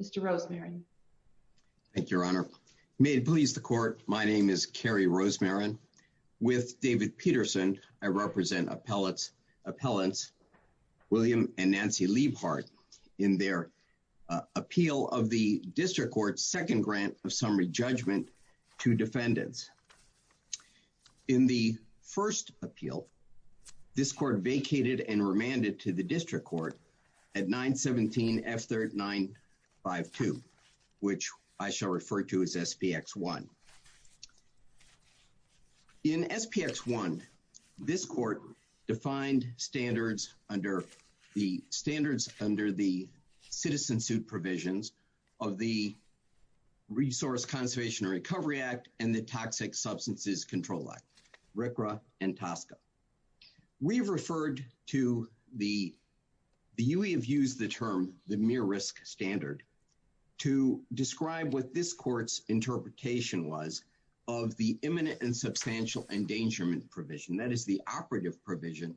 Mr. Rosemarin. Thank you, Your Honor. May it please the Court, my name is Kerry Rosemarin. With David Peterson, I represent appellants William and Nancy Liebhart in their appeal of the District Court's second grant of summary to the District Court at 917 F 3952 which I shall refer to as SPX 1. In SPX 1, this court defined standards under the standards under the citizen suit provisions of the Resource Conservation and Recovery Act and the Toxic Act. The UE have used the term the mere risk standard to describe what this court's interpretation was of the imminent and substantial endangerment provision, that is the operative provision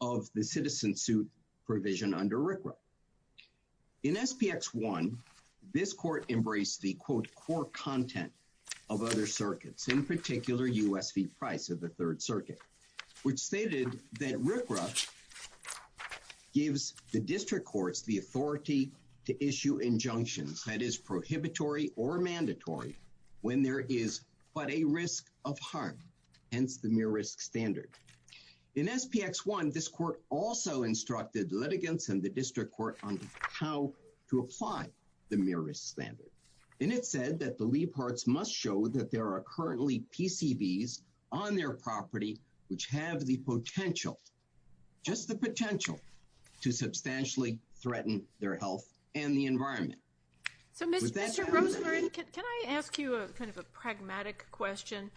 of the citizen suit provision under RCRA. In SPX 1, this court embraced the quote core content of other circuits, in particular U.S. fee price of the Third Circuit which stated that gives the District Courts the authority to issue injunctions that is prohibitory or mandatory when there is but a risk of harm, hence the mere risk standard. In SPX 1, this court also instructed litigants and the District Court on how to apply the mere risk standard and it said that the Liebharts must show that there are currently PCBs on their property which have the potential to substantially threaten their health and the environment. Can I ask you a kind of a pragmatic question?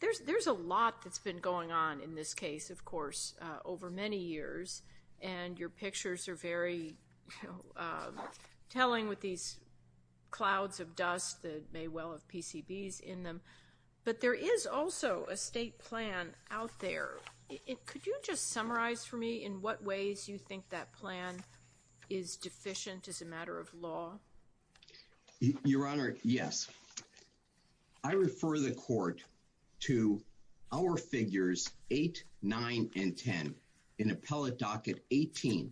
There's there's a lot that's been going on in this case of course over many years and your pictures are very telling with these clouds of dust that may well have PCBs in them but there is also a state plan out there. Could you just summarize for me in what ways you think that plan is deficient as a matter of law? Your Honor, yes. I refer the court to our figures 8, 9, and 10 in appellate docket 18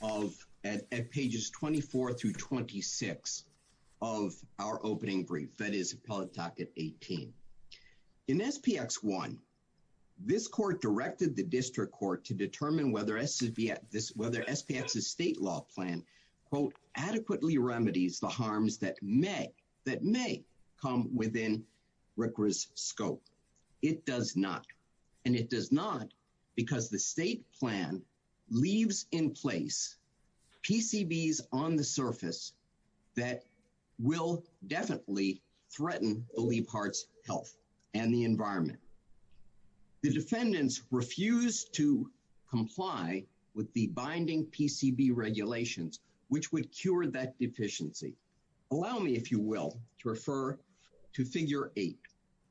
of at pages 24 through 26 of our opening brief that is appellate docket 18. In SPX 1, this court directed the District Court to determine whether SPX's state law plan quote adequately remedies the harms that may come within RCRA's scope. It does not and it does not because the state plan leaves in place PCBs on the surface that will definitely threaten the Leibharts health and the environment. The defendants refuse to comply with the binding PCB regulations which would cure that deficiency. Allow me if you will to refer to figure 8.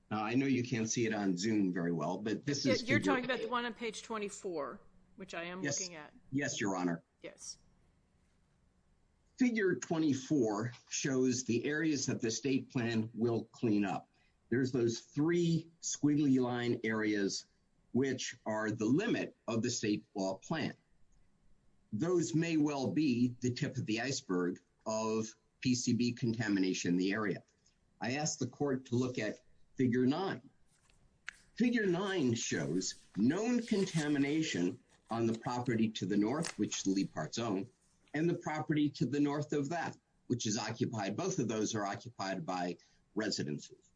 I know you can't see it on zoom very well but this is you're talking about the one on page 24 which I am looking at. Yes, your Honor. Yes. Figure 24 shows the areas that the state plan will clean up. There's those three squiggly line areas which are the limit of the state law plan. Those may well be the tip of the iceberg of PCB contamination in the area. I asked the known contamination on the property to the north which the Leibharts own and the property to the north of that which is occupied. Both of those are occupied by residences.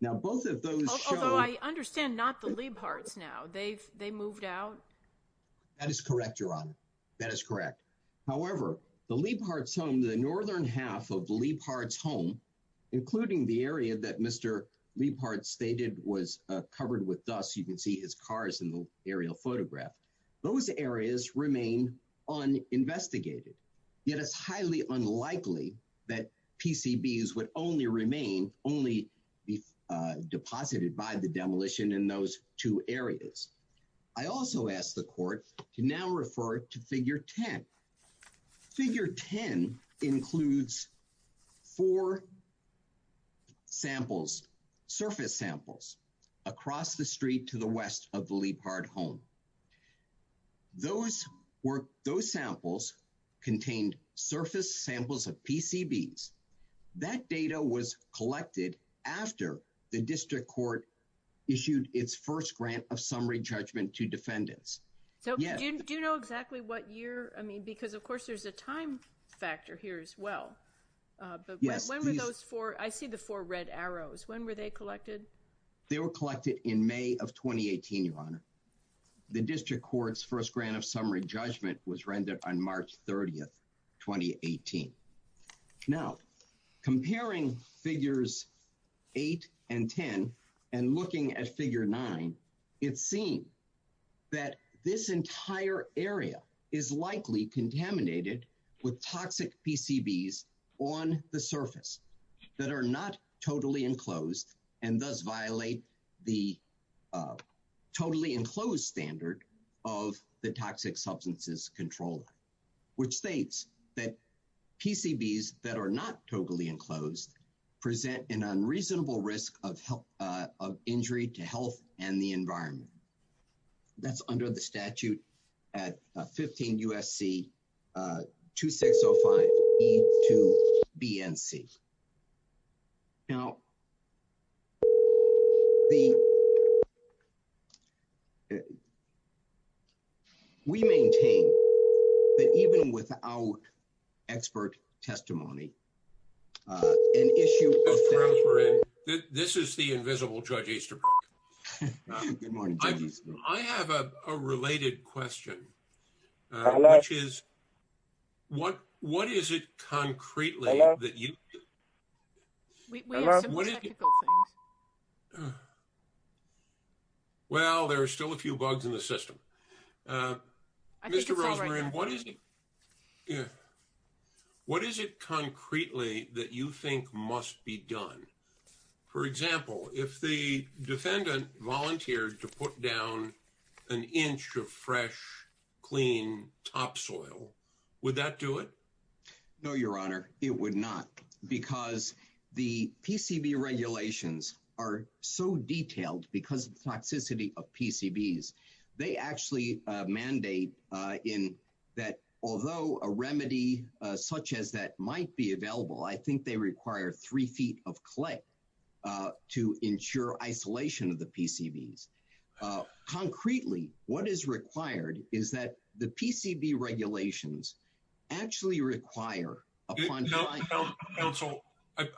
Now both of those... Although I understand not the Leibharts now. They've they moved out. That is correct, your Honor. That is correct. However, the Leibharts home, the northern half of the Leibharts home including the area that aerial photograph, those areas remain uninvestigated. Yet it's highly unlikely that PCBs would only remain, only be deposited by the demolition in those two areas. I also asked the court to now refer to figure 10. Figure 10 includes four samples, surface samples, across the street to the west of the Leibhart home. Those were, those samples contained surface samples of PCBs. That data was collected after the district court issued its first grant of summary judgment to defendants. So do you know exactly what year? I mean because of factor here as well. When were those four? I see the four red arrows. When were they collected? They were collected in May of 2018, your Honor. The district court's first grant of summary judgment was rendered on March 30th, 2018. Now comparing figures 8 and 10 and looking at figure 9, it seemed that this entire area is likely contaminated with toxic PCBs on the surface that are not totally enclosed and thus violate the totally enclosed standard of the toxic substances control, which states that PCBs that are not totally enclosed present an unreasonable risk of injury to health and the environment. That's under the statute at 15 U.S.C. 2605 E2 BNC. Now we maintain that even without expert testimony, an issue... This is the invisible Judge Easterbrook. I have a related question, which is what what is it concretely that you... Well there are still a few bugs in the system. Mr. Rosemary, what is it concretely that you think must be done? For example, if the defendant volunteered to put down an inch of fresh clean topsoil, would that do it? No, your Honor, it would not because the PCB regulations are so mandate in that although a remedy such as that might be available, I think they require three feet of clay to ensure isolation of the PCBs. Concretely, what is required is that the PCB regulations actually require... Counsel,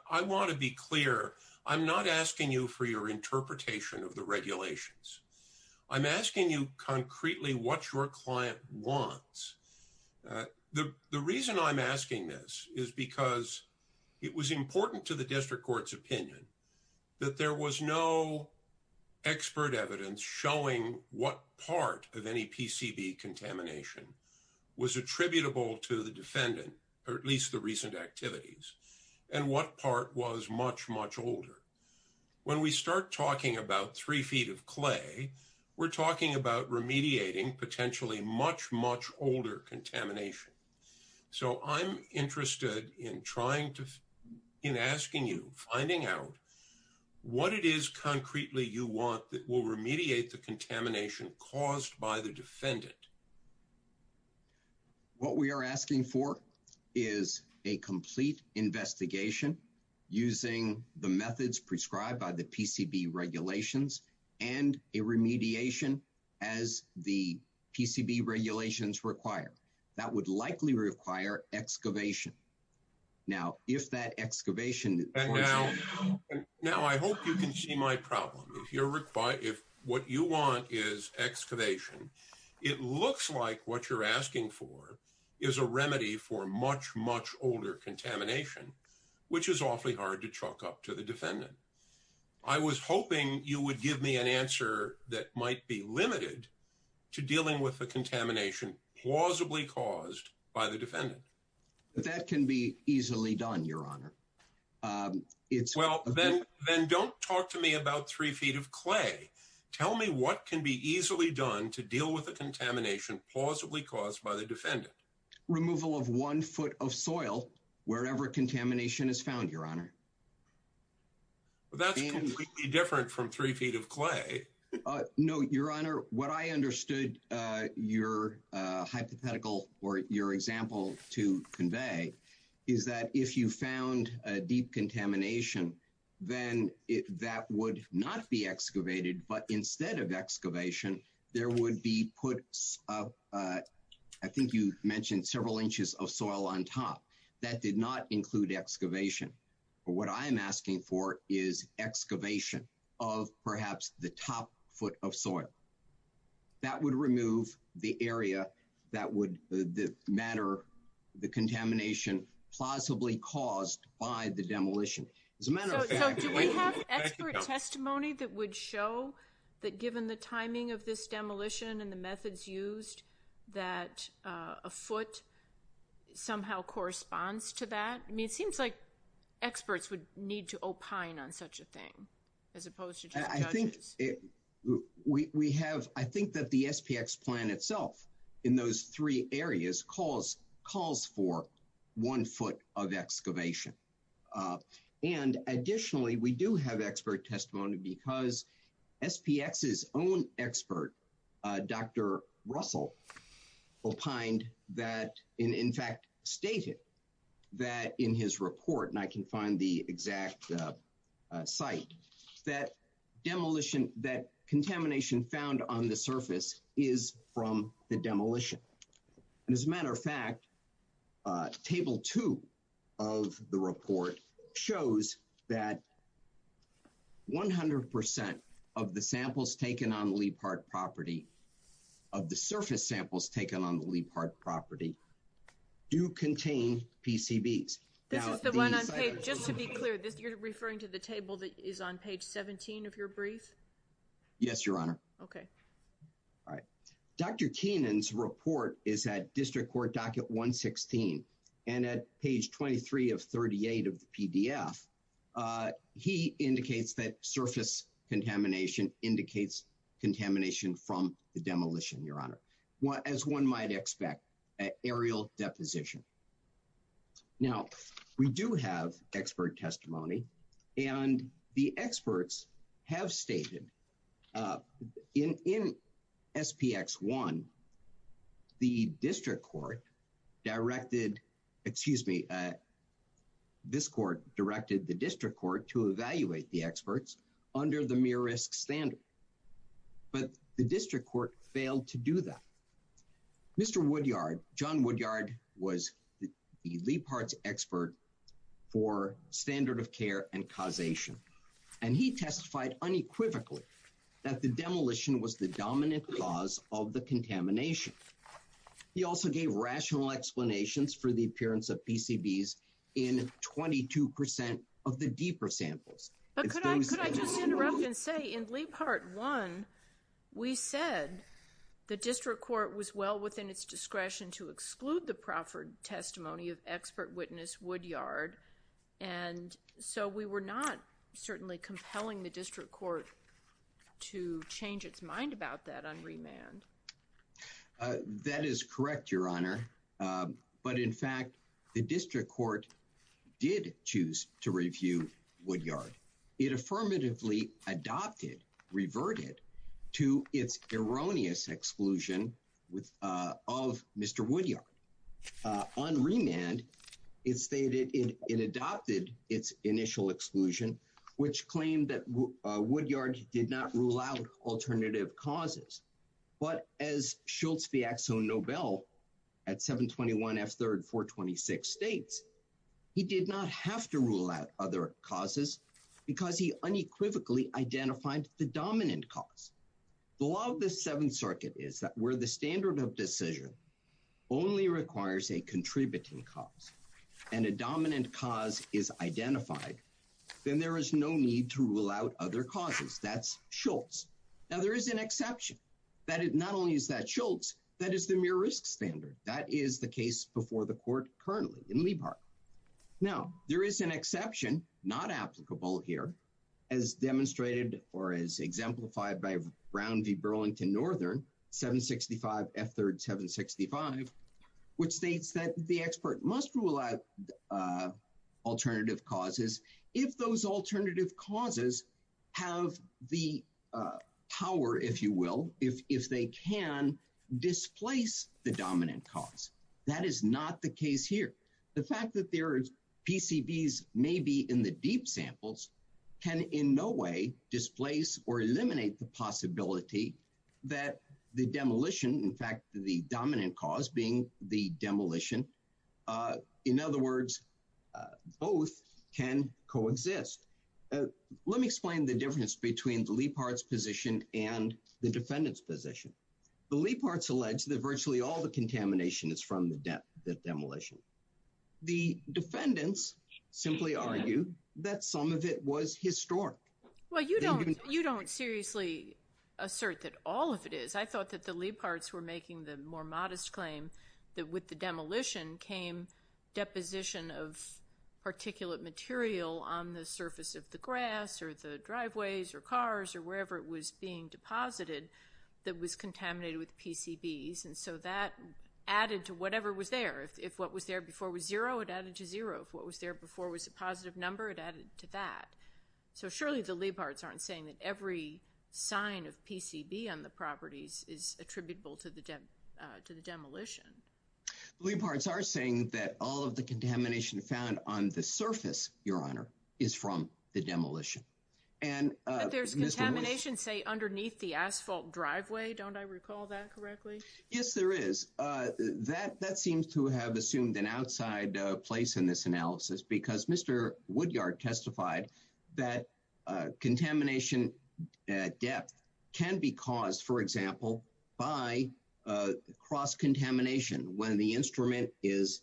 I want to be clear. I'm not asking you for your interpretation of the regulations. I'm asking you concretely what your client wants. The reason I'm asking this is because it was important to the district court's opinion that there was no expert evidence showing what part of any PCB contamination was attributable to the defendant, or at least the recent activities, and what part was much, much older. When we start talking about three feet of clay, we're talking about remediating potentially much, much older contamination. So I'm interested in trying to... in asking you, finding out what it is concretely you want that will remediate the contamination caused by the defendant. What we are asking for is a complete investigation using the methods prescribed by the PCB regulations and a remediation as the PCB regulations require. That would likely require excavation. Now, if that excavation... Now, I hope you can see my problem. If what you want is excavation, it looks like what you're asking for is a remedy for much, much older contamination, which is awfully hard to chalk up to the defendant. I was hoping you would give me an answer that might be limited to dealing with the contamination plausibly caused by the defendant. That can be easily done, Your Honor. It's... Well, then, then don't talk to me about three feet of clay. Tell me what can be easily done to deal with the contamination plausibly caused by the defendant. Removal of one foot of soil, wherever contamination is found, Your Honor. That's completely different from three feet of clay. No, Your Honor, what I understood your hypothetical or your example to convey is that if you found a deep contamination, then that would not be excavated. But you mentioned several inches of soil on top. That did not include excavation. What I'm asking for is excavation of perhaps the top foot of soil. That would remove the area that would matter, the contamination plausibly caused by the demolition. As a matter of fact... So do we have expert testimony that would show that given the timing of this foot somehow corresponds to that? I mean, it seems like experts would need to opine on such a thing, as opposed to just judges. I think we have, I think that the SPX plan itself in those three areas calls for one foot of excavation. And additionally, we do have expert testimony because SPX's own expert, Dr. Russell, opined that, in fact, stated that in his report, and I can find the exact site, that demolition, that contamination found on the surface is from the demolition. And as a matter of fact, table two of the report shows that. 100% of the samples taken on the Leap Heart property, of the surface samples taken on the Leap Heart property, do contain PCBs. This is the one on page, just to be clear, you're referring to the table that is on page 17 of your brief? Yes, Your Honor. Okay. All right. Dr. Keenan's report is at District Court Docket 116, and at page 23 of 38 of the surface contamination indicates contamination from the demolition, Your Honor. As one might expect, an aerial deposition. Now, we do have expert testimony, and the experts have stated in SPX 1, the district court directed, excuse me, this court directed the district court to under the mere risk standard. But the district court failed to do that. Mr. Woodyard, John Woodyard, was the Leap Heart's expert for standard of care and causation. And he testified unequivocally that the demolition was the dominant cause of the contamination. He also gave rational explanations for the appearance of PCBs in 22% of the deeper samples. But could I just interrupt and say in Leap Heart 1, we said the district court was well within its discretion to exclude the proffered testimony of expert witness Woodyard. And so we were not certainly compelling the district court to change its mind about that on remand. That is correct, Your Honor. But in fact, the district court did choose to review Woodyard. It affirmatively adopted, reverted to its erroneous exclusion of Mr. Woodyard. On remand, it stated it adopted its initial exclusion, which claimed that Woodyard did not rule out alternative causes. But as Schultz Fiaxo Nobel at 721 F. 426 states, he did not have to rule out other causes because he unequivocally identified the dominant cause. The law of the Seventh Circuit is that where the standard of decision only requires a contributing cause and a dominant cause is identified, then there is no need to rule out other causes. That's Schultz. Now, there is an exception that it not only is that Schultz, that is the mere risk standard. That is the case before the court currently in Lee Park. Now, there is an exception not applicable here, as demonstrated or as exemplified by Brown v. Burlington Northern 765 F. 3rd 765, which states that the expert must rule out alternative causes if those alternative causes have the power, if you will, if if they can displace the dominant cause. That is not the case here. The fact that there is PCBs maybe in the deep samples can in no way displace or eliminate the possibility that the demolition, in fact, the dominant cause being the demolition. In other words, both can coexist. Let me explain the difference between the Leapfrog's position and the defendant's position. The Leapfrog's alleged that virtually all the contamination is from the demolition. The defendants simply argue that some of it was historic. Well, you don't you don't seriously assert that all of it is. I thought that the Leapfrog's were making the more modest claim that with the demolition came deposition of particulate material on the surface of the grass or the driveways or cars or wherever it was being deposited that was contaminated with PCBs. And so that added to whatever was there. If what was there before was zero, it added to zero. If what was there before was a positive number, it added to that. So surely the Leapfrog's aren't saying that every sign of PCB on the properties is attributable to the to the demolition. Leapfrog's are saying that all of the contamination found on the surface, Your Honor, is from the demolition. And there's contamination, say, underneath the asphalt driveway. Don't I recall that correctly? Yes, there is that that seems to have assumed an outside place in this analysis because Mr. Woodyard testified that contamination at depth can be caused, for example, by cross-contamination when the instrument is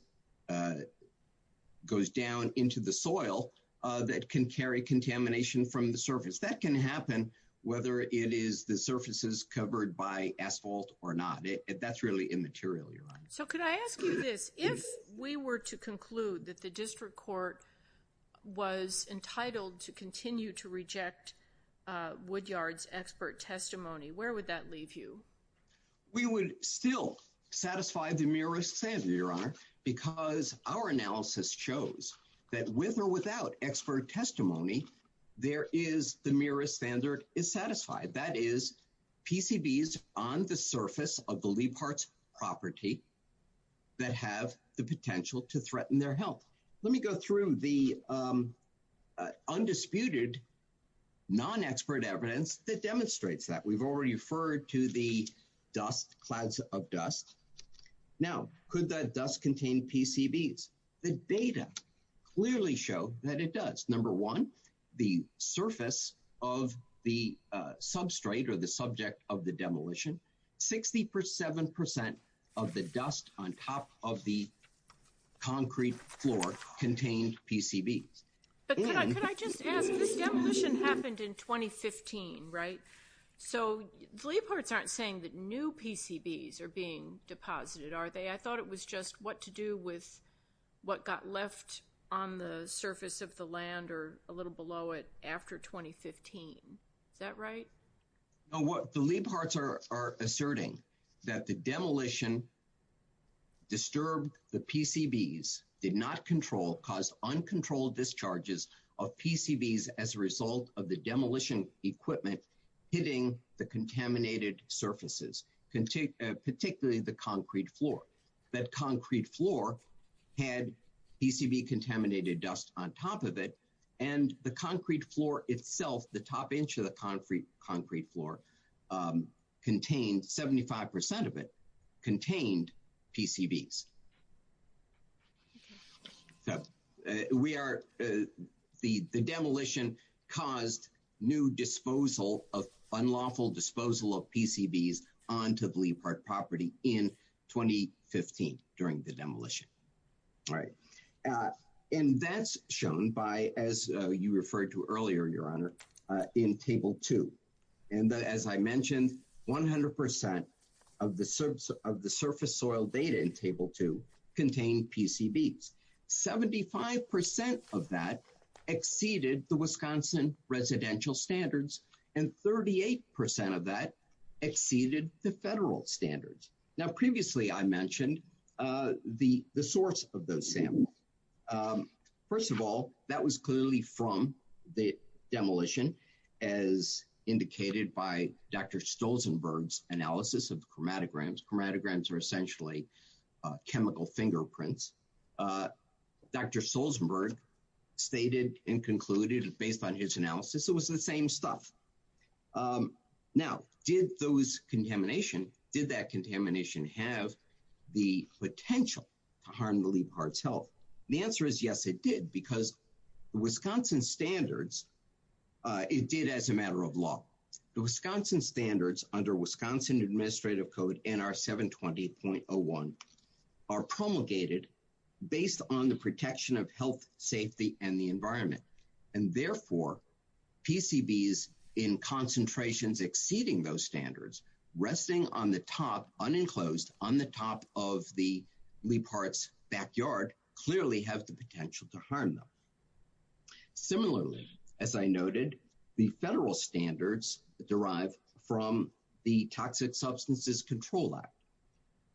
goes down into the soil that can carry contamination from the surface. That can happen whether it is the surfaces covered by asphalt or not. That's really immaterial, Your Honor. So could I ask you this? If we were to conclude that the district court was entitled to continue to reject Woodyard's expert testimony, where would that leave you? We would still satisfy the mereest say, Your Honor, because our analysis shows that with or without expert testimony, there is the merest standard is satisfied. That is, PCBs on the surface of the Leapfrog's property that have the potential to threaten their health. Let me go through the undisputed non-expert evidence that demonstrates that. We've already referred to the dust clouds of dust. Now, could that dust contain PCBs? The data clearly show that it does. Number one, the surface of the substrate or the subject of the demolition, 67 percent of the dust on top of the concrete floor contained PCBs. But could I just ask, this demolition happened in 2015, right? So the Leapfrogs aren't saying that new PCBs are being deposited, are they? I thought it was just what to do with what got left on the surface of the land or a little below it after 2015. Is that right? No, the Leapfrogs are asserting that the demolition disturbed the PCBs, did not control, caused uncontrolled discharges of PCBs as a result of the demolition equipment hitting the contaminated surfaces, particularly the concrete floor. That concrete floor had PCB contaminated dust on top of it. And the concrete floor itself, the top inch of the concrete floor contained, 75 percent of it contained PCBs. So we are the the demolition caused new disposal of unlawful disposal of PCBs onto the surface of the land in 2015 during the demolition, right? And that's shown by, as you referred to earlier, your honor, in table two. And as I mentioned, 100 percent of the surface of the surface soil data in table two contained PCBs. Seventy five percent of that exceeded the Wisconsin residential standards and 38 percent of that exceeded the federal standards. Now, previously I mentioned the the source of the sample. First of all, that was clearly from the demolition, as indicated by Dr. Stolzenberg's analysis of chromatograms. Chromatograms are essentially chemical fingerprints. Dr. Stolzenberg stated and concluded based on his analysis, it was the same stuff. Now, did those contamination, did that contamination have the potential to harm the Leap Heart's health? The answer is yes, it did, because the Wisconsin standards, it did as a matter of law. The Wisconsin standards under Wisconsin Administrative Code NR 720.01 are promulgated based on the protection of health, safety and the environment, and exceeding those standards, resting on the top, unenclosed on the top of the Leap Heart's backyard, clearly have the potential to harm them. Similarly, as I noted, the federal standards derive from the Toxic Substances Control Act.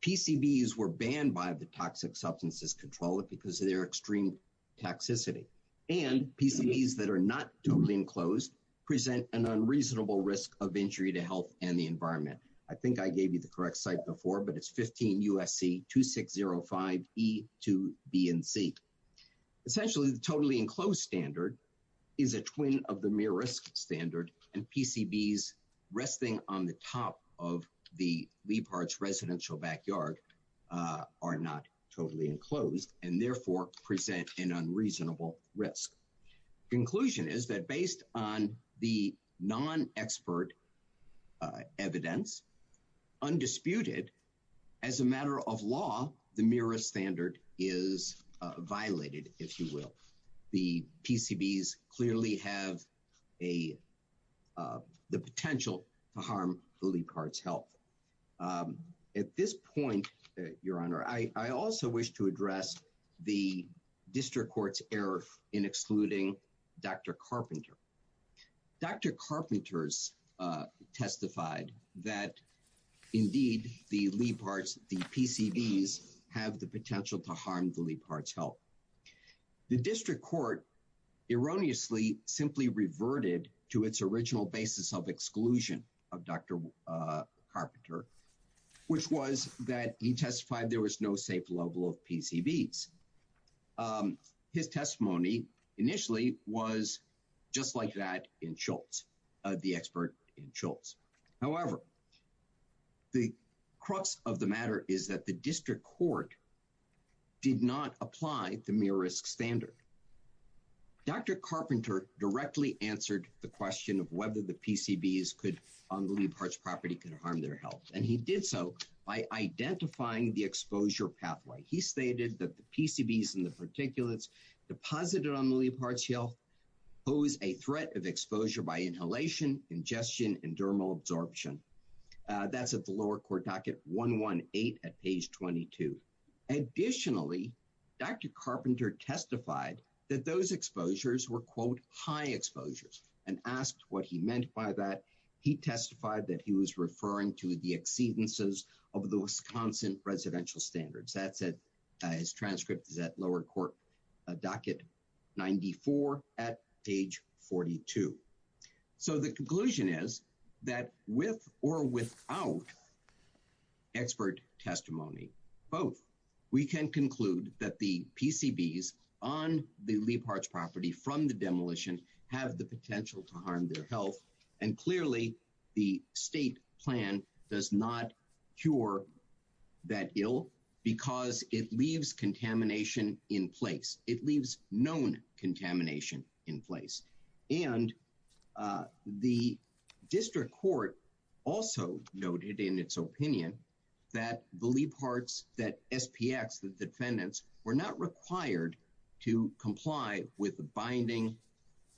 PCBs were banned by the Toxic Substances Control Act because of their extreme toxicity and PCBs that are not totally enclosed present an unreasonable risk of injury to health and the environment. I think I gave you the correct site before, but it's 15 U.S.C. 2605E2BNC. Essentially, the totally enclosed standard is a twin of the mere risk standard and PCBs resting on the top of the Leap Heart's residential backyard are not totally enclosed and therefore present an unreasonable risk. Conclusion is that based on the non-expert evidence, undisputed as a matter of law, the mere risk standard is violated, if you will. The PCBs clearly have the potential to harm the Leap Heart's health. At this point, Your Honor, I also wish to address the district court's error in excluding Dr. Carpenter. Dr. Carpenter's testified that indeed the Leap Heart's, the PCBs have the potential to harm the Leap Heart's health. The district court erroneously simply reverted to its original basis of exclusion of Dr. Carpenter, which was that he testified there was no safe level of PCBs. His testimony initially was just like that in Schultz, the expert in Schultz. However. The crux of the matter is that the district court. Did not apply the mere risk standard. Dr. Carpenter directly answered the question of whether the PCBs could on the Leap Heart's property could harm their health. And he did so by identifying the exposure pathway. He stated that the PCBs and the particulates deposited on the Leap Heart's health pose a threat of exposure by inhalation, ingestion and dermal absorption. That's at the lower court docket 118 at page 22. Additionally, Dr. Carpenter testified that those exposures were, quote, high exposures and asked what he meant by that. He testified that he was referring to the exceedances of the Wisconsin residential standards. That said, his transcript is at lower court docket 94 at page 42. So the conclusion is that with or without expert testimony, both we can conclude that the PCBs on the Leap Heart's property from the demolition have the potential to harm their health. And clearly, the state plan does not cure that ill because it leaves contamination in place. It leaves known contamination in place. And the district court also noted in its opinion that the Leap Heart's, that SPX, the defendants were not required to comply with the binding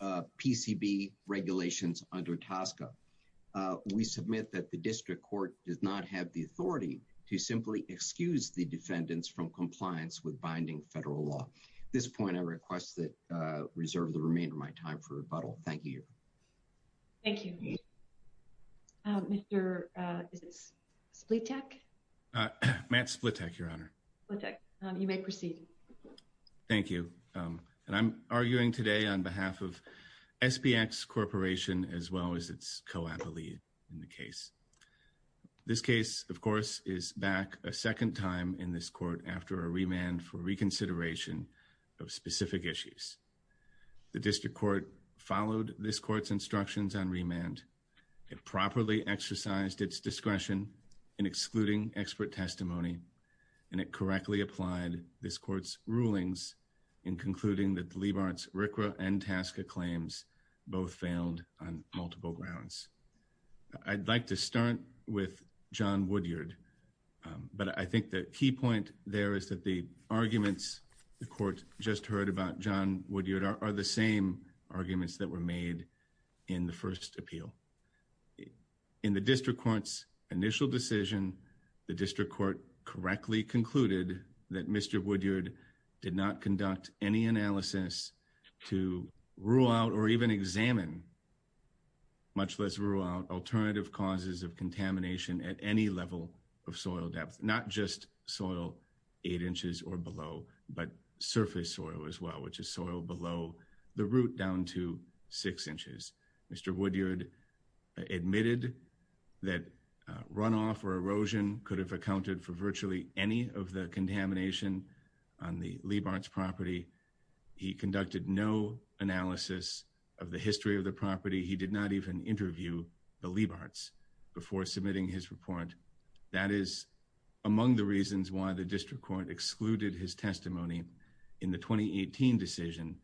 PCB regulations under TSCA. We submit that the district court does not have the authority to simply excuse the defendants from compliance with binding federal law. At this point, I request that reserve the remainder of my time for rebuttal. Thank you. Thank you. Mr. Splitek, Matt Splitek, your honor. You may proceed. Thank you. And I'm arguing today on behalf of SPX Corporation as well as its co-appellee in the case. This case, of course, is back a second time in this court after a remand for reconsideration of specific issues. The district court followed this court's instructions on remand. It properly exercised its discretion in excluding expert testimony and it correctly applied this court's rulings in concluding that Leap Heart's RCRA and TSCA claims both failed on multiple grounds. I'd like to start with John Woodyard. But I think the key point there is that the arguments the court just heard about John Woodyard are the same arguments that were made in the first appeal. In the district court's initial decision, the district court correctly concluded that Mr. Woodyard did not conduct any analysis to rule out or even examine. Much less rule out alternative causes of contamination at any level of soil depth, not just soil eight inches or below, but surface soil as well, which is soil below the root down to six inches. Mr. Woodyard admitted that runoff or erosion could have accounted for virtually any of the contamination on the Leap Heart's property. He conducted no analysis of the history of the property. He did not even interview the Leap Hearts before submitting his report. That is among the reasons why the district court excluded his testimony in the 2018 decision.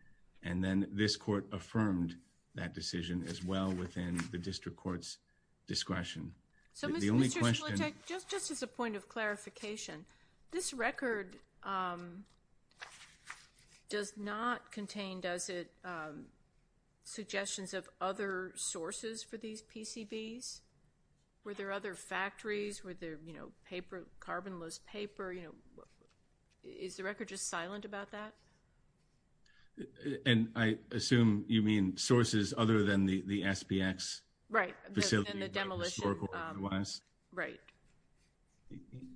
And then this court affirmed that decision as well within the district court's discretion. So, Mr. Schlichtek, just as a point of clarification, this record does not contain, does it, suggestions of other sources for these PCBs? Were there other factories? Were there, you know, paper, carbonless paper? You know, is the record just silent about that? And I assume you mean sources other than the SPX facility? Right. The demolition was right.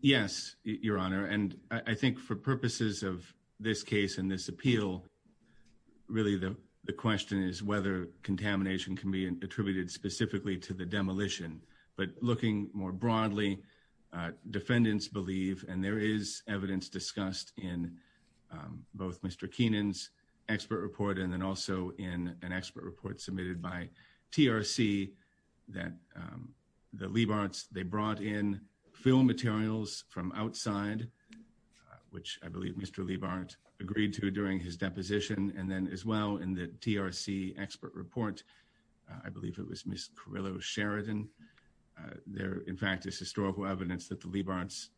Yes, Your Honor, and I think for purposes of this case and this appeal, really, the question is whether contamination can be attributed specifically to the demolition. But looking more broadly, defendants believe, and there is evidence discussed in both Mr. Keenan's expert report and then also in an expert report submitted by TRC that the Leap Hearts, they brought in film materials from outside, which I believe Mr. Leap Heart agreed to during his deposition. And then as well in the TRC expert report, I believe it was Miss Carrillo Sheridan. There, in fact, is historical evidence that the Leap Hearts,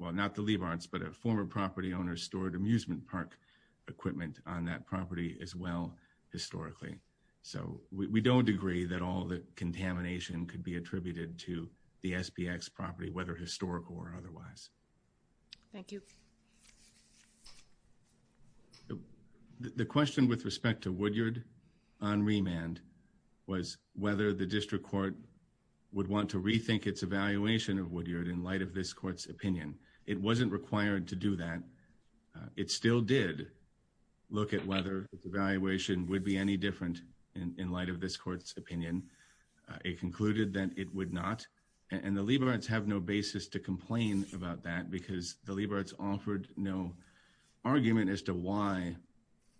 well, not the Leap Hearts, but a former property owner stored amusement park equipment on that property as well historically. So we don't agree that all the contamination could be attributed to the SPX property, whether historical or otherwise. Thank you. The question with respect to Woodyard on remand was whether the district court would want to rethink its evaluation of Woodyard in light of this court's opinion. It wasn't required to do that. It still did look at whether its evaluation would be any different in light of this court's opinion. It concluded that it would not. And the Leap Hearts have no basis to complain about that because the Leap Hearts offered no argument as to why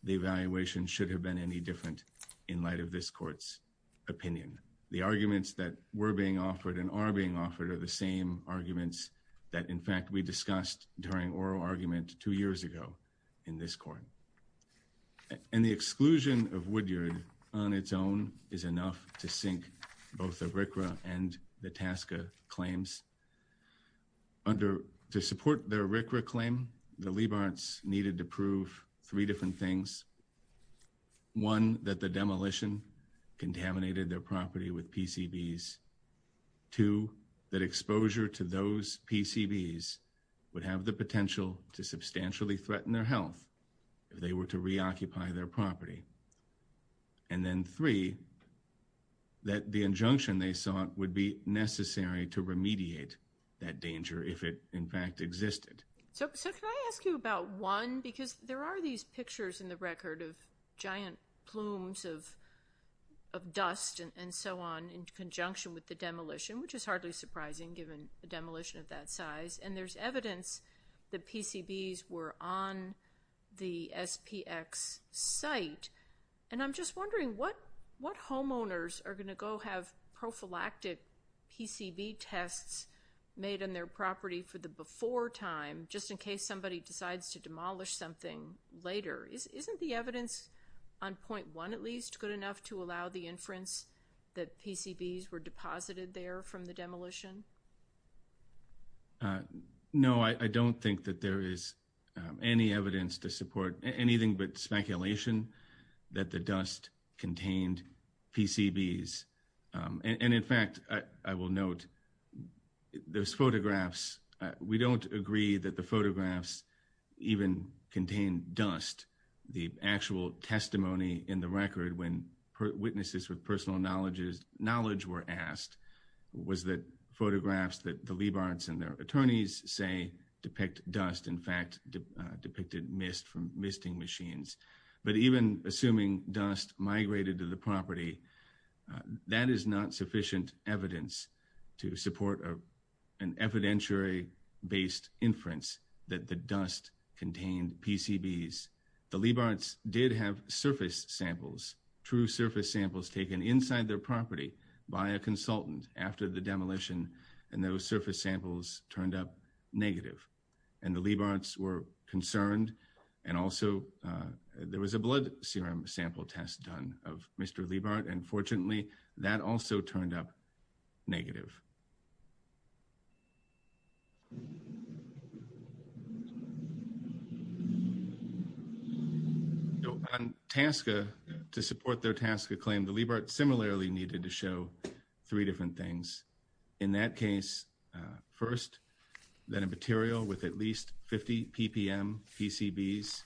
the evaluation should have been any different in light of this court's opinion. The arguments that were being offered and are being offered are the same arguments that, in fact, we discussed during oral argument two years ago in this court. And the exclusion of Woodyard on its own is enough to sink both the RCRA and the TASCA claims. Under to support their RCRA claim, the Leap Hearts needed to prove three different things. One, that the demolition contaminated their property with PCBs. Two, that exposure to those PCBs would have the potential to substantially threaten their health if they were to reoccupy their property. And then three, that the injunction they sought would be necessary to remediate that danger if it, in fact, existed. So can I ask you about one? Because there are these pictures in the record of giant plumes of demolition, which is hardly surprising given the demolition of that size. And there's evidence that PCBs were on the SPX site. And I'm just wondering, what homeowners are going to go have prophylactic PCB tests made on their property for the before time, just in case somebody decides to demolish something later? Isn't the evidence on point one at least good enough to allow the inference that PCBs were deposited there from the demolition? Uh, no, I don't think that there is any evidence to support anything but speculation that the dust contained PCBs. And in fact, I will note those photographs, we don't agree that the photographs even contain dust. The actual testimony in the record when witnesses with personal knowledge were asked was that photographs that the Leibartz and their attorneys say depict dust, in fact, depicted mist from misting machines. But even assuming dust migrated to the property, that is not sufficient evidence to support an evidentiary based inference that the dust contained PCBs. The Leibartz did have surface samples, true surface samples taken inside their property by a consultant after the demolition. And those surface samples turned up negative. And the Leibartz were concerned. And also, there was a blood serum sample test done of Mr. Leibart. And fortunately, that also turned up negative. So, on TASCA, to support their TASCA claim, the Leibartz similarly needed to show three different things. In that case, first, that a material with at least 50 ppm PCBs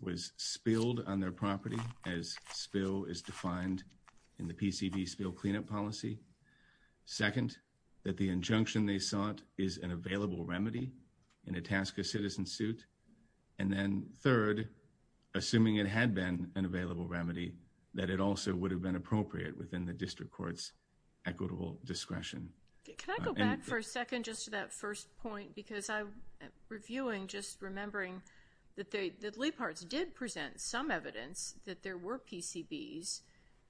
was spilled on their property as spill is defined in the PCB spill cleanup policy. Second, that the injunction they sought is an available remedy in a TASCA citizen suit. And then third, assuming it had been an available remedy, that it also would have been appropriate within the district court's equitable discretion. Can I go back for a second just to that first point? Because I'm reviewing just remembering that the Leibartz did present some evidence that there were PCBs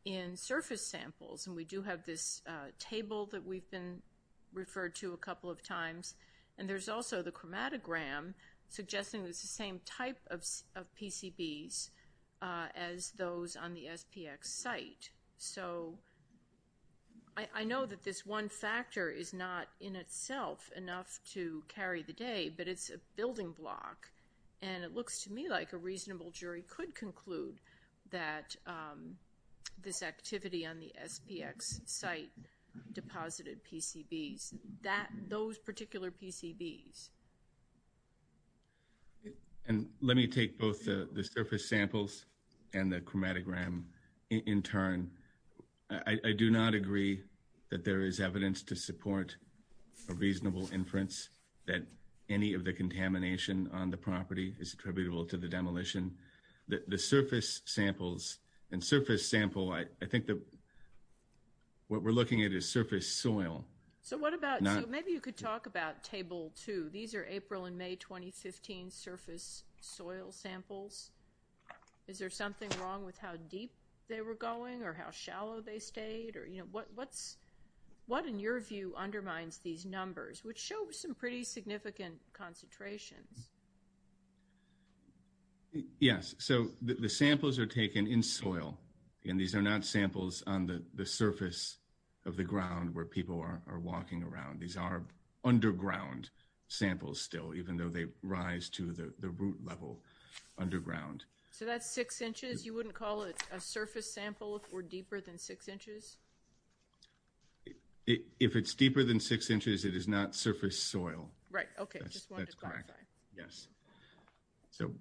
in surface samples. And we do have this table that we've been referred to a couple of times. And there's also the chromatogram suggesting it's the same type of PCBs as those on the SPX site. So, I know that this one factor is not in itself enough to carry the day. But it's a building block. And it looks to me like a reasonable jury could conclude that this activity on the SPX site deposited PCBs. Those particular PCBs. And let me take both the surface samples and the chromatogram in turn. I do not agree that there is evidence to support a reasonable inference that any of the contamination on the property is attributable to the demolition. The surface samples and surface sample, I think that what we're looking at is surface soil. So, what about, maybe you could talk about table two. These are April and May 2015 surface soil samples. Is there something wrong with how deep they were going or how shallow they stayed? Or, you know, what in your view undermines these numbers? Which show some pretty significant concentrations. Yes. So, the samples are taken in soil. And these are not samples on the surface of the ground where people are walking around. These are underground samples still, even though they rise to the root level underground. So, that's six inches? You wouldn't call it a surface sample if we're deeper than six inches? If it's deeper than six inches, it is not surface soil. Right. Okay. That's correct. I just wanted to clarify. Yes. So,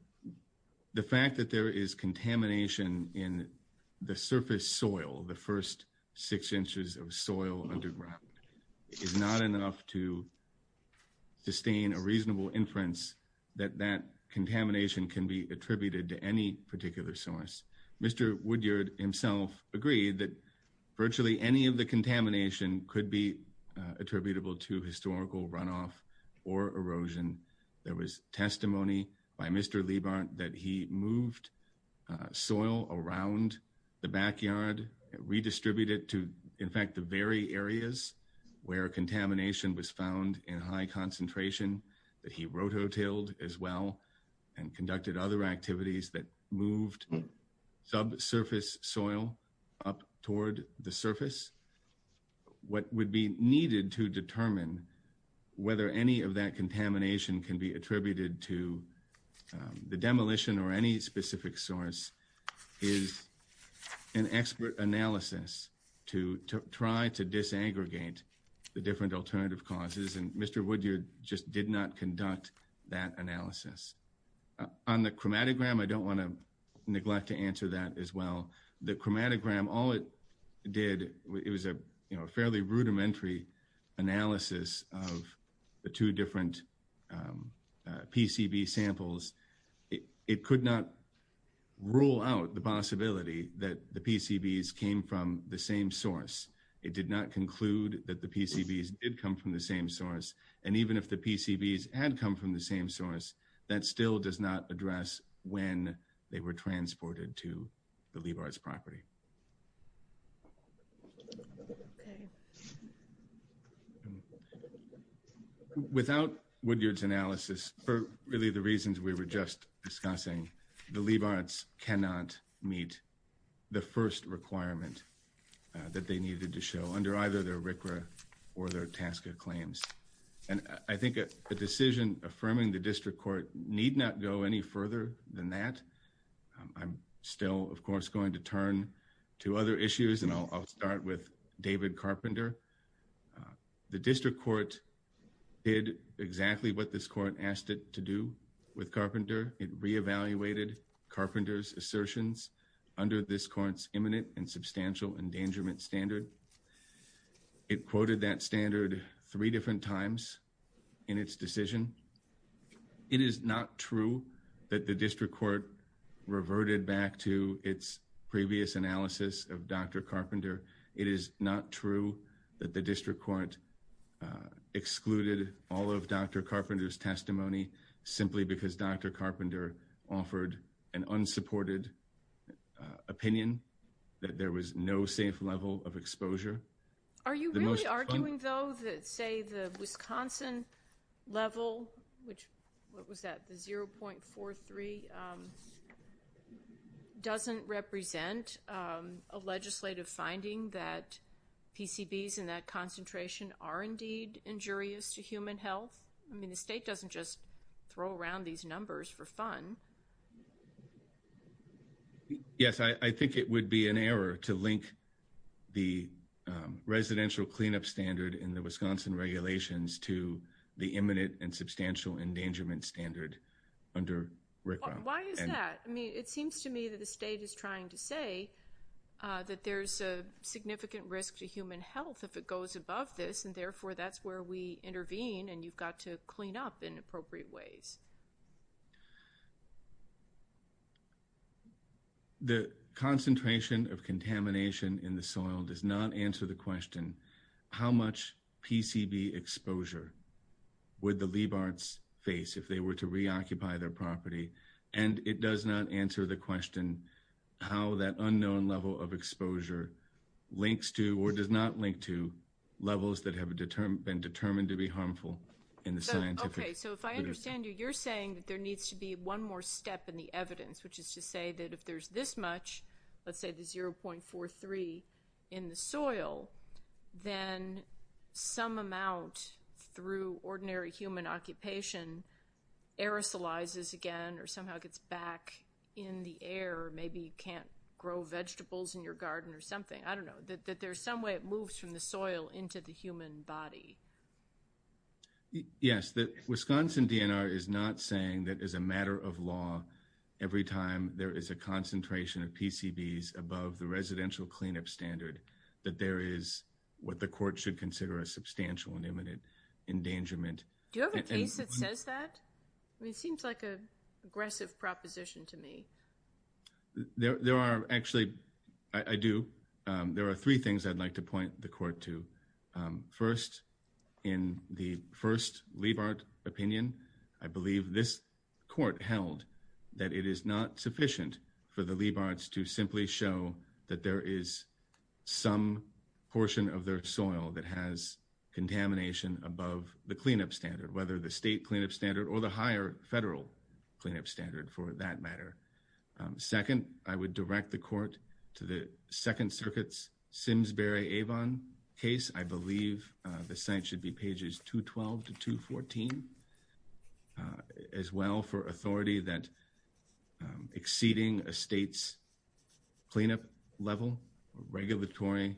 the fact that there is contamination in the surface soil, the first six inches of soil underground, is not enough to sustain a reasonable inference that that contamination can be attributed to any particular source. Mr. Woodyard himself agreed that virtually any of the contamination could be attributable to historical runoff or erosion. There was testimony by Mr. Liebhardt that he moved soil around the backyard, redistributed to, in fact, the very areas where contamination was found in high concentration, that he rototilled as well and conducted other activities that moved subsurface soil up toward the surface. What would be needed to determine whether any of that contamination can be attributed to the demolition or any specific source is an expert analysis to try to disaggregate the different alternative causes, and Mr. Woodyard just did not conduct that analysis. On the chromatogram, I don't want to neglect to answer that as well. The chromatogram, all it did, it was a fairly rudimentary analysis of the two different PCB samples. It could not rule out the possibility that the PCBs came from the same source. It did not conclude that the PCBs did come from the same source, and even if the PCBs had come from the same source, that still does not address when they were transported to the Liebhardt's property. Without Woodyard's analysis, for really the reasons we were just discussing, the Liebhardts cannot meet the first requirement that they needed to show under either their RCRA or their TASCA claims, and I think a decision affirming the district court need not go any further than that. I'm still, of course, going to turn to other issues, and I'll start with David Carpenter. The district court did exactly what this court asked it to do with Carpenter. It reevaluated Carpenter's assertions under this court's imminent and substantial endangerment standard. It quoted that standard three different times in its decision. It is not true that the district court reverted back to its previous analysis of Dr. Carpenter. It is not true that the district court excluded all of Dr. Carpenter, offered an unsupported opinion, that there was no safe level of exposure. Are you really arguing, though, that, say, the Wisconsin level, which, what was that, the 0.43, doesn't represent a legislative finding that PCBs in that concentration are indeed injurious to human health? I mean, the state doesn't just throw around these numbers for fun. Yes, I think it would be an error to link the residential cleanup standard in the Wisconsin regulations to the imminent and substantial endangerment standard under RICRA. Why is that? I mean, it seems to me that the state is trying to say that there's a significant risk to human health if it goes above this, and therefore, that's where we intervene, and you've got to clean up in appropriate ways. The concentration of contamination in the soil does not answer the question, how much PCB exposure would the Liebhards face if they were to reoccupy their property? And it does not answer the question how that unknown level of exposure links to or does not link to levels that have been determined to be harmful in the scientific. Okay, so if I understand you, you're saying that there needs to be one more step in the evidence, which is to say that if there's this much, let's say the 0.43 in the soil, then some amount through ordinary human occupation aerosolizes again or somehow gets back in the air, maybe you can't grow vegetables in your garden or something, I don't know, that there's some way it moves from the soil into the human body. Yes, the Wisconsin DNR is not saying that as a matter of law, every time there is a concentration of PCBs above the residential cleanup standard, that there is what the court should consider a substantial and imminent endangerment. Do you have a case that says that? I mean, it seems like an aggressive proposition to me. There are actually, I do, there are three things I'd like to point the court to. First, in the first Leibart opinion, I believe this court held that it is not sufficient for the Leibarts to simply show that there is some portion of their soil that has contamination above the cleanup standard, whether the state cleanup standard or the higher federal cleanup standard, for that matter. Second, I would direct the court to the Second Circuit's Simsbury-Avon case. I believe the site should be pages 212 to 214, as well, for authority that exceeding a state's cleanup level, regulatory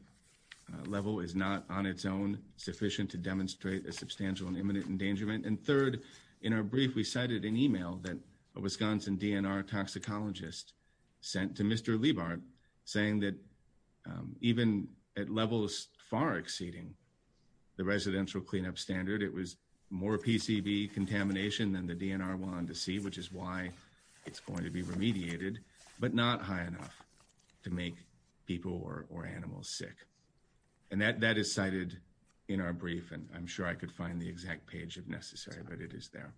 level, is not on its own sufficient to demonstrate a substantial and imminent endangerment. Third, in our brief, we cited an email that a Wisconsin DNR toxicologist sent to Mr. Leibart saying that even at levels far exceeding the residential cleanup standard, it was more PCB contamination than the DNR wanted to see, which is why it's going to be remediated, but not high enough to make people or animals sick. And that is cited in our brief, and I'm sure I could find the exact page if necessary, but it is there.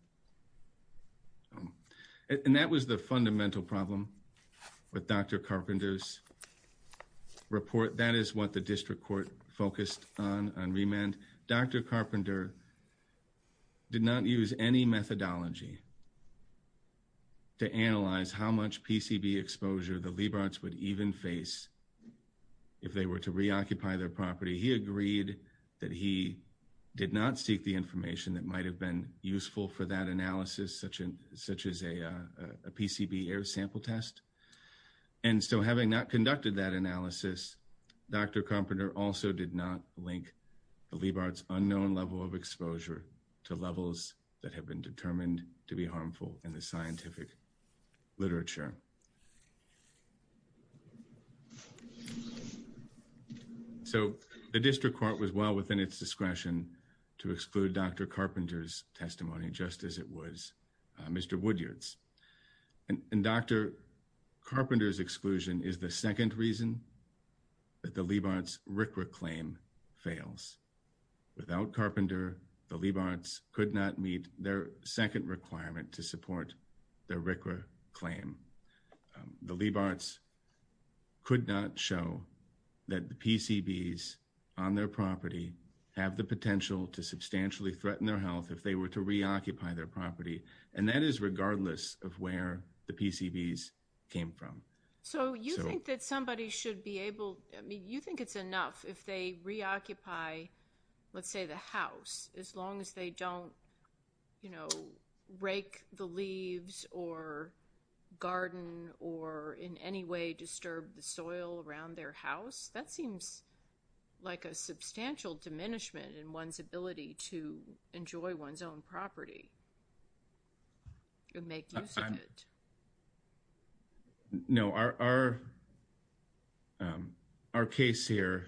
And that was the fundamental problem with Dr. Carpenter's report. That is what the district court focused on on remand. Dr. Carpenter did not use any methodology to analyze how much PCB exposure the Leibarts would even face if they were to reoccupy their property. He agreed that he did not seek the information that might have been useful for that analysis, such as a PCB air sample test. And so having not conducted that analysis, Dr. Carpenter also did not link the Leibart's unknown level of exposure to levels that have been determined to be harmful in the scientific literature. So the district court was well within its discretion to exclude Dr. Carpenter's testimony, just as it was Mr. Woodyard's. And Dr. Carpenter's exclusion is the second reason that the Leibart's RCRA claim fails. Without Carpenter, the Leibarts could not meet their second requirement to support their RCRA claim. The Leibarts could not show that the PCBs on their property have the potential to substantially threaten their health if they were to reoccupy their property. And that is regardless of where the PCBs came from. So you think that somebody should be able, I mean, you think it's enough if they reoccupy, let's say the house, as long as they don't, you know, rake the leaves or garden or in any way disturb the soil around their house? That seems like a substantial diminishment in one's ability to enjoy one's own property and make use of it. No, our case here,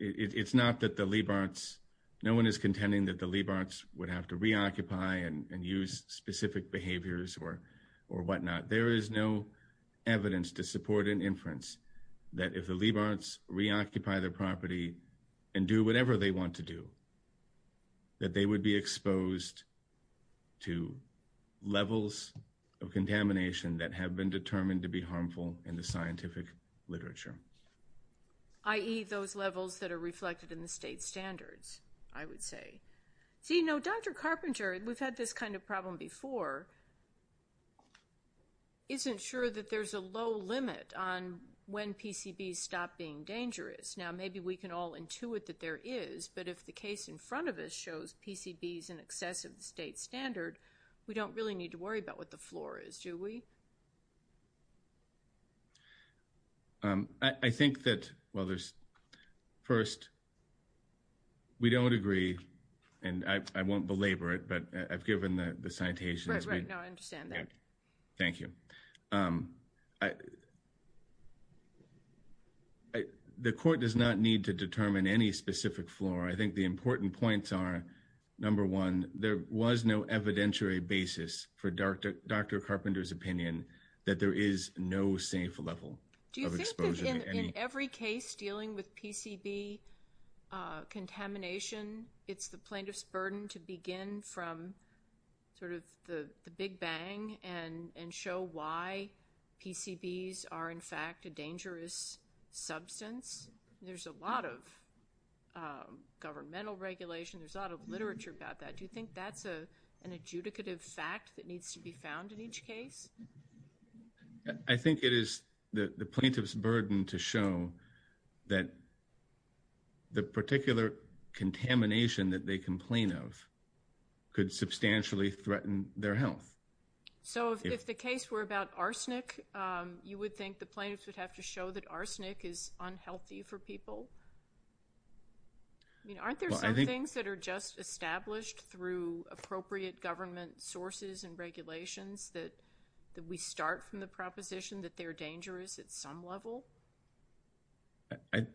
it's not that the Leibarts, no one is contending that the Leibarts would have to reoccupy and use specific behaviors or whatnot. There is no evidence to support an inference that if the Leibarts reoccupy their property and do whatever they want to do, that they would be exposed to levels of contamination that have been determined to be harmful in the scientific literature. I.e., those levels that are reflected in the state standards, I would say. So, you know, Dr. Carpenter, we've had this kind of problem before, isn't sure that there's a low limit on when PCBs stop being dangerous. Now, maybe we can all intuit that there is, but if the case in front of us shows PCBs in excess of the state standard, we don't really need to worry about what the floor is, do we? I think that, well, first, we don't agree, and I won't belabor it, but I've given the citation. Right, right, no, I understand that. Thank you. The court does not need to determine any specific floor. I think the important points are, number one, there was no evidentiary basis for Dr. Carpenter's opinion that there is no safe level of exposure to any— Do you think that in every case dealing with PCB contamination, it's the plaintiff's burden to begin from sort of the big bang and show why PCBs are, in fact, a dangerous substance? There's a lot of governmental regulation. There's a lot of literature about that. Do you think that's an adjudicative fact that needs to be found in each case? I think it is the plaintiff's burden to show that the particular contamination that they complain of could substantially threaten their health. So if the case were about arsenic, you would think the plaintiffs would have to show that arsenic is unhealthy for people? I mean, aren't there some things that are just established through appropriate government sources and regulations that we start from the proposition that they're dangerous at some level?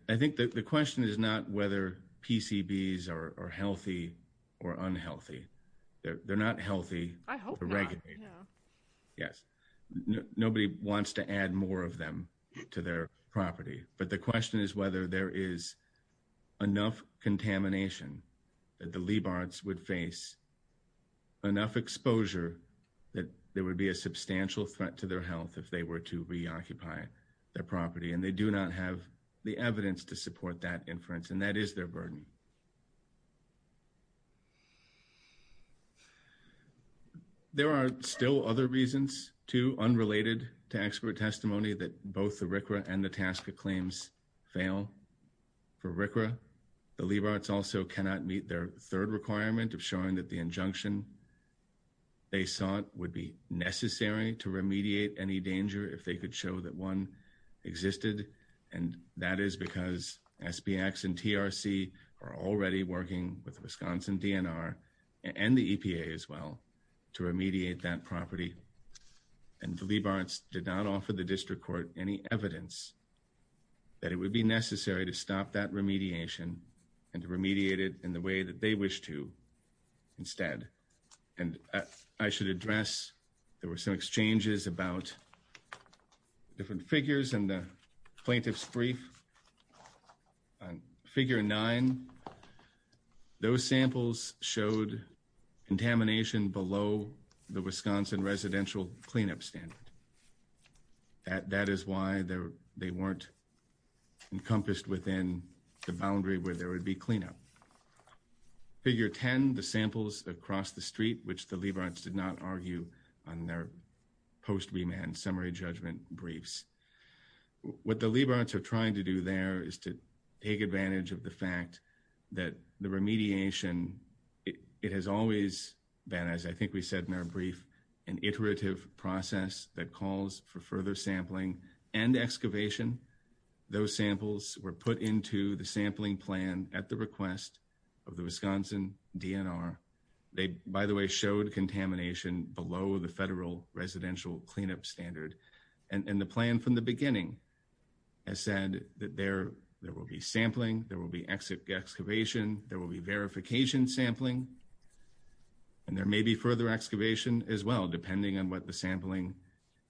I think the question is not whether PCBs are healthy or unhealthy. They're not healthy to regulate. I hope not, yeah. Yes. Nobody wants to add more of them to their property. But the question is whether there is enough contamination that the Leibartz would face, enough exposure that there would be a substantial threat to their health if they were to reoccupy their property. And they do not have the evidence to support that inference. And that is their burden. There are still other reasons, too, unrelated to expert testimony that both the RCRA and the TASCA claims fail. For RCRA, the Leibartz also cannot meet their third requirement of showing that the injunction they sought would be necessary to remediate any danger if they could show that one existed. And that is because SBX and TRC are already working with Wisconsin DNR and the EPA as well to remediate that property. And the Leibartz did not offer the district court any evidence that it would be necessary to stop that remediation and to remediate it in the way that they wish to instead. And I should address, there were some exchanges about different figures in the plaintiff's brief. On figure 9, those samples showed contamination below the Wisconsin residential cleanup standard. That is why they weren't encompassed within the boundary where there would be cleanup. Figure 10, the samples across the street, which the Leibartz did not argue on their post-remand summary judgment briefs. What the Leibartz are trying to do there is to take advantage of the fact that the remediation, it has always been, as I think we said in our brief, an iterative process that calls for further sampling and excavation. Those samples were put into the sampling plan at the request of the Wisconsin DNR. They, by the way, showed contamination below the federal residential cleanup standard. And the plan from the beginning has said that there will be sampling, there will be excavation, there will be verification sampling, and there may be further excavation as well, depending on what the sampling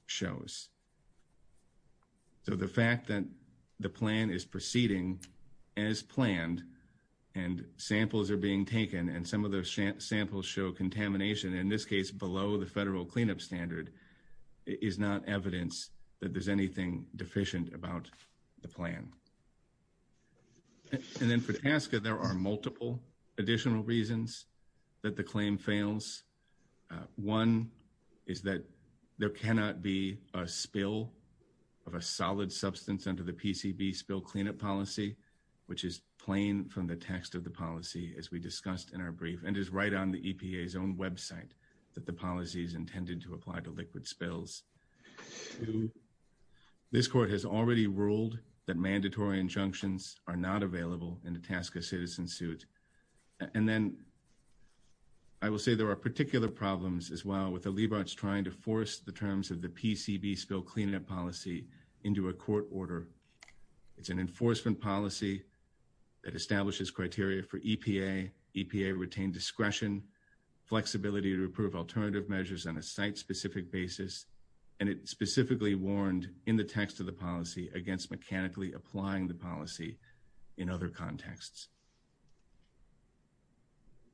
shows. So the fact that the plan is proceeding as planned and samples are being taken and some of those samples show contamination, in this case below the federal cleanup standard, is not evidence that there's anything deficient about the plan. And then for TASCA, there are multiple additional reasons that the claim fails. One is that there cannot be a spill of a solid substance under the PCB spill cleanup policy, which is plain from the text of the policy, as we discussed in our brief, and is right on the EPA's own website that the policy is intended to apply to liquid spills. This court has already ruled that mandatory injunctions are not available in the TASCA citizen suit. And then I will say there are particular problems as well with the Leibovitz trying to force the terms of the PCB spill cleanup policy into a court order. It's an enforcement policy that establishes criteria for EPA. EPA retained discretion, flexibility to approve alternative measures on a site-specific basis, and it specifically warned in the text of the policy against mechanically applying the policy in other contexts.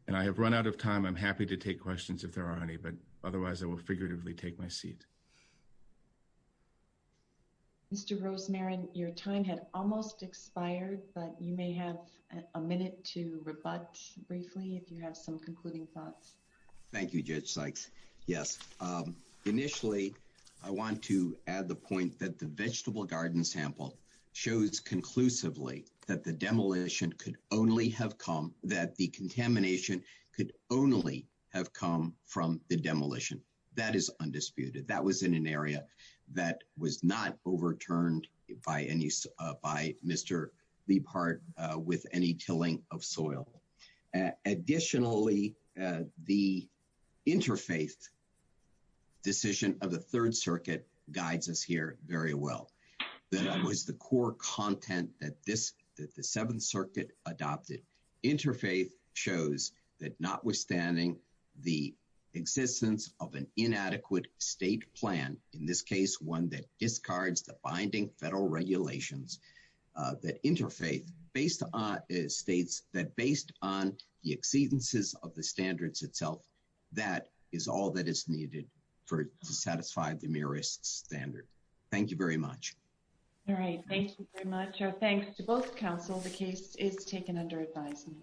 And I have run out of time. I'm happy to take questions if there are any, but otherwise I will figuratively take my seat. Thank you. Mr. Rosemarin, your time had almost expired, but you may have a minute to rebut briefly if you have some concluding thoughts. Thank you, Judge Sykes. Yes. Initially, I want to add the point that the vegetable garden sample shows conclusively that the demolition could only have come, that the contamination could only have come from the demolition. That is undisputed. That was in an area that was not overturned by Mr. Liebhardt with any tilling of soil. Additionally, the interfaith decision of the Third Circuit guides us here very well. That was the core content that the Seventh Circuit adopted. Interfaith shows that notwithstanding the existence of an inadequate state plan, in this case, one that discards the binding federal regulations, that interfaith states that based on the exceedances of the standards itself, that is all that is needed to satisfy the MIRIS standard. Thank you very much. All right. Thank you very much. Thanks to both counsel. The case is taken under advisement.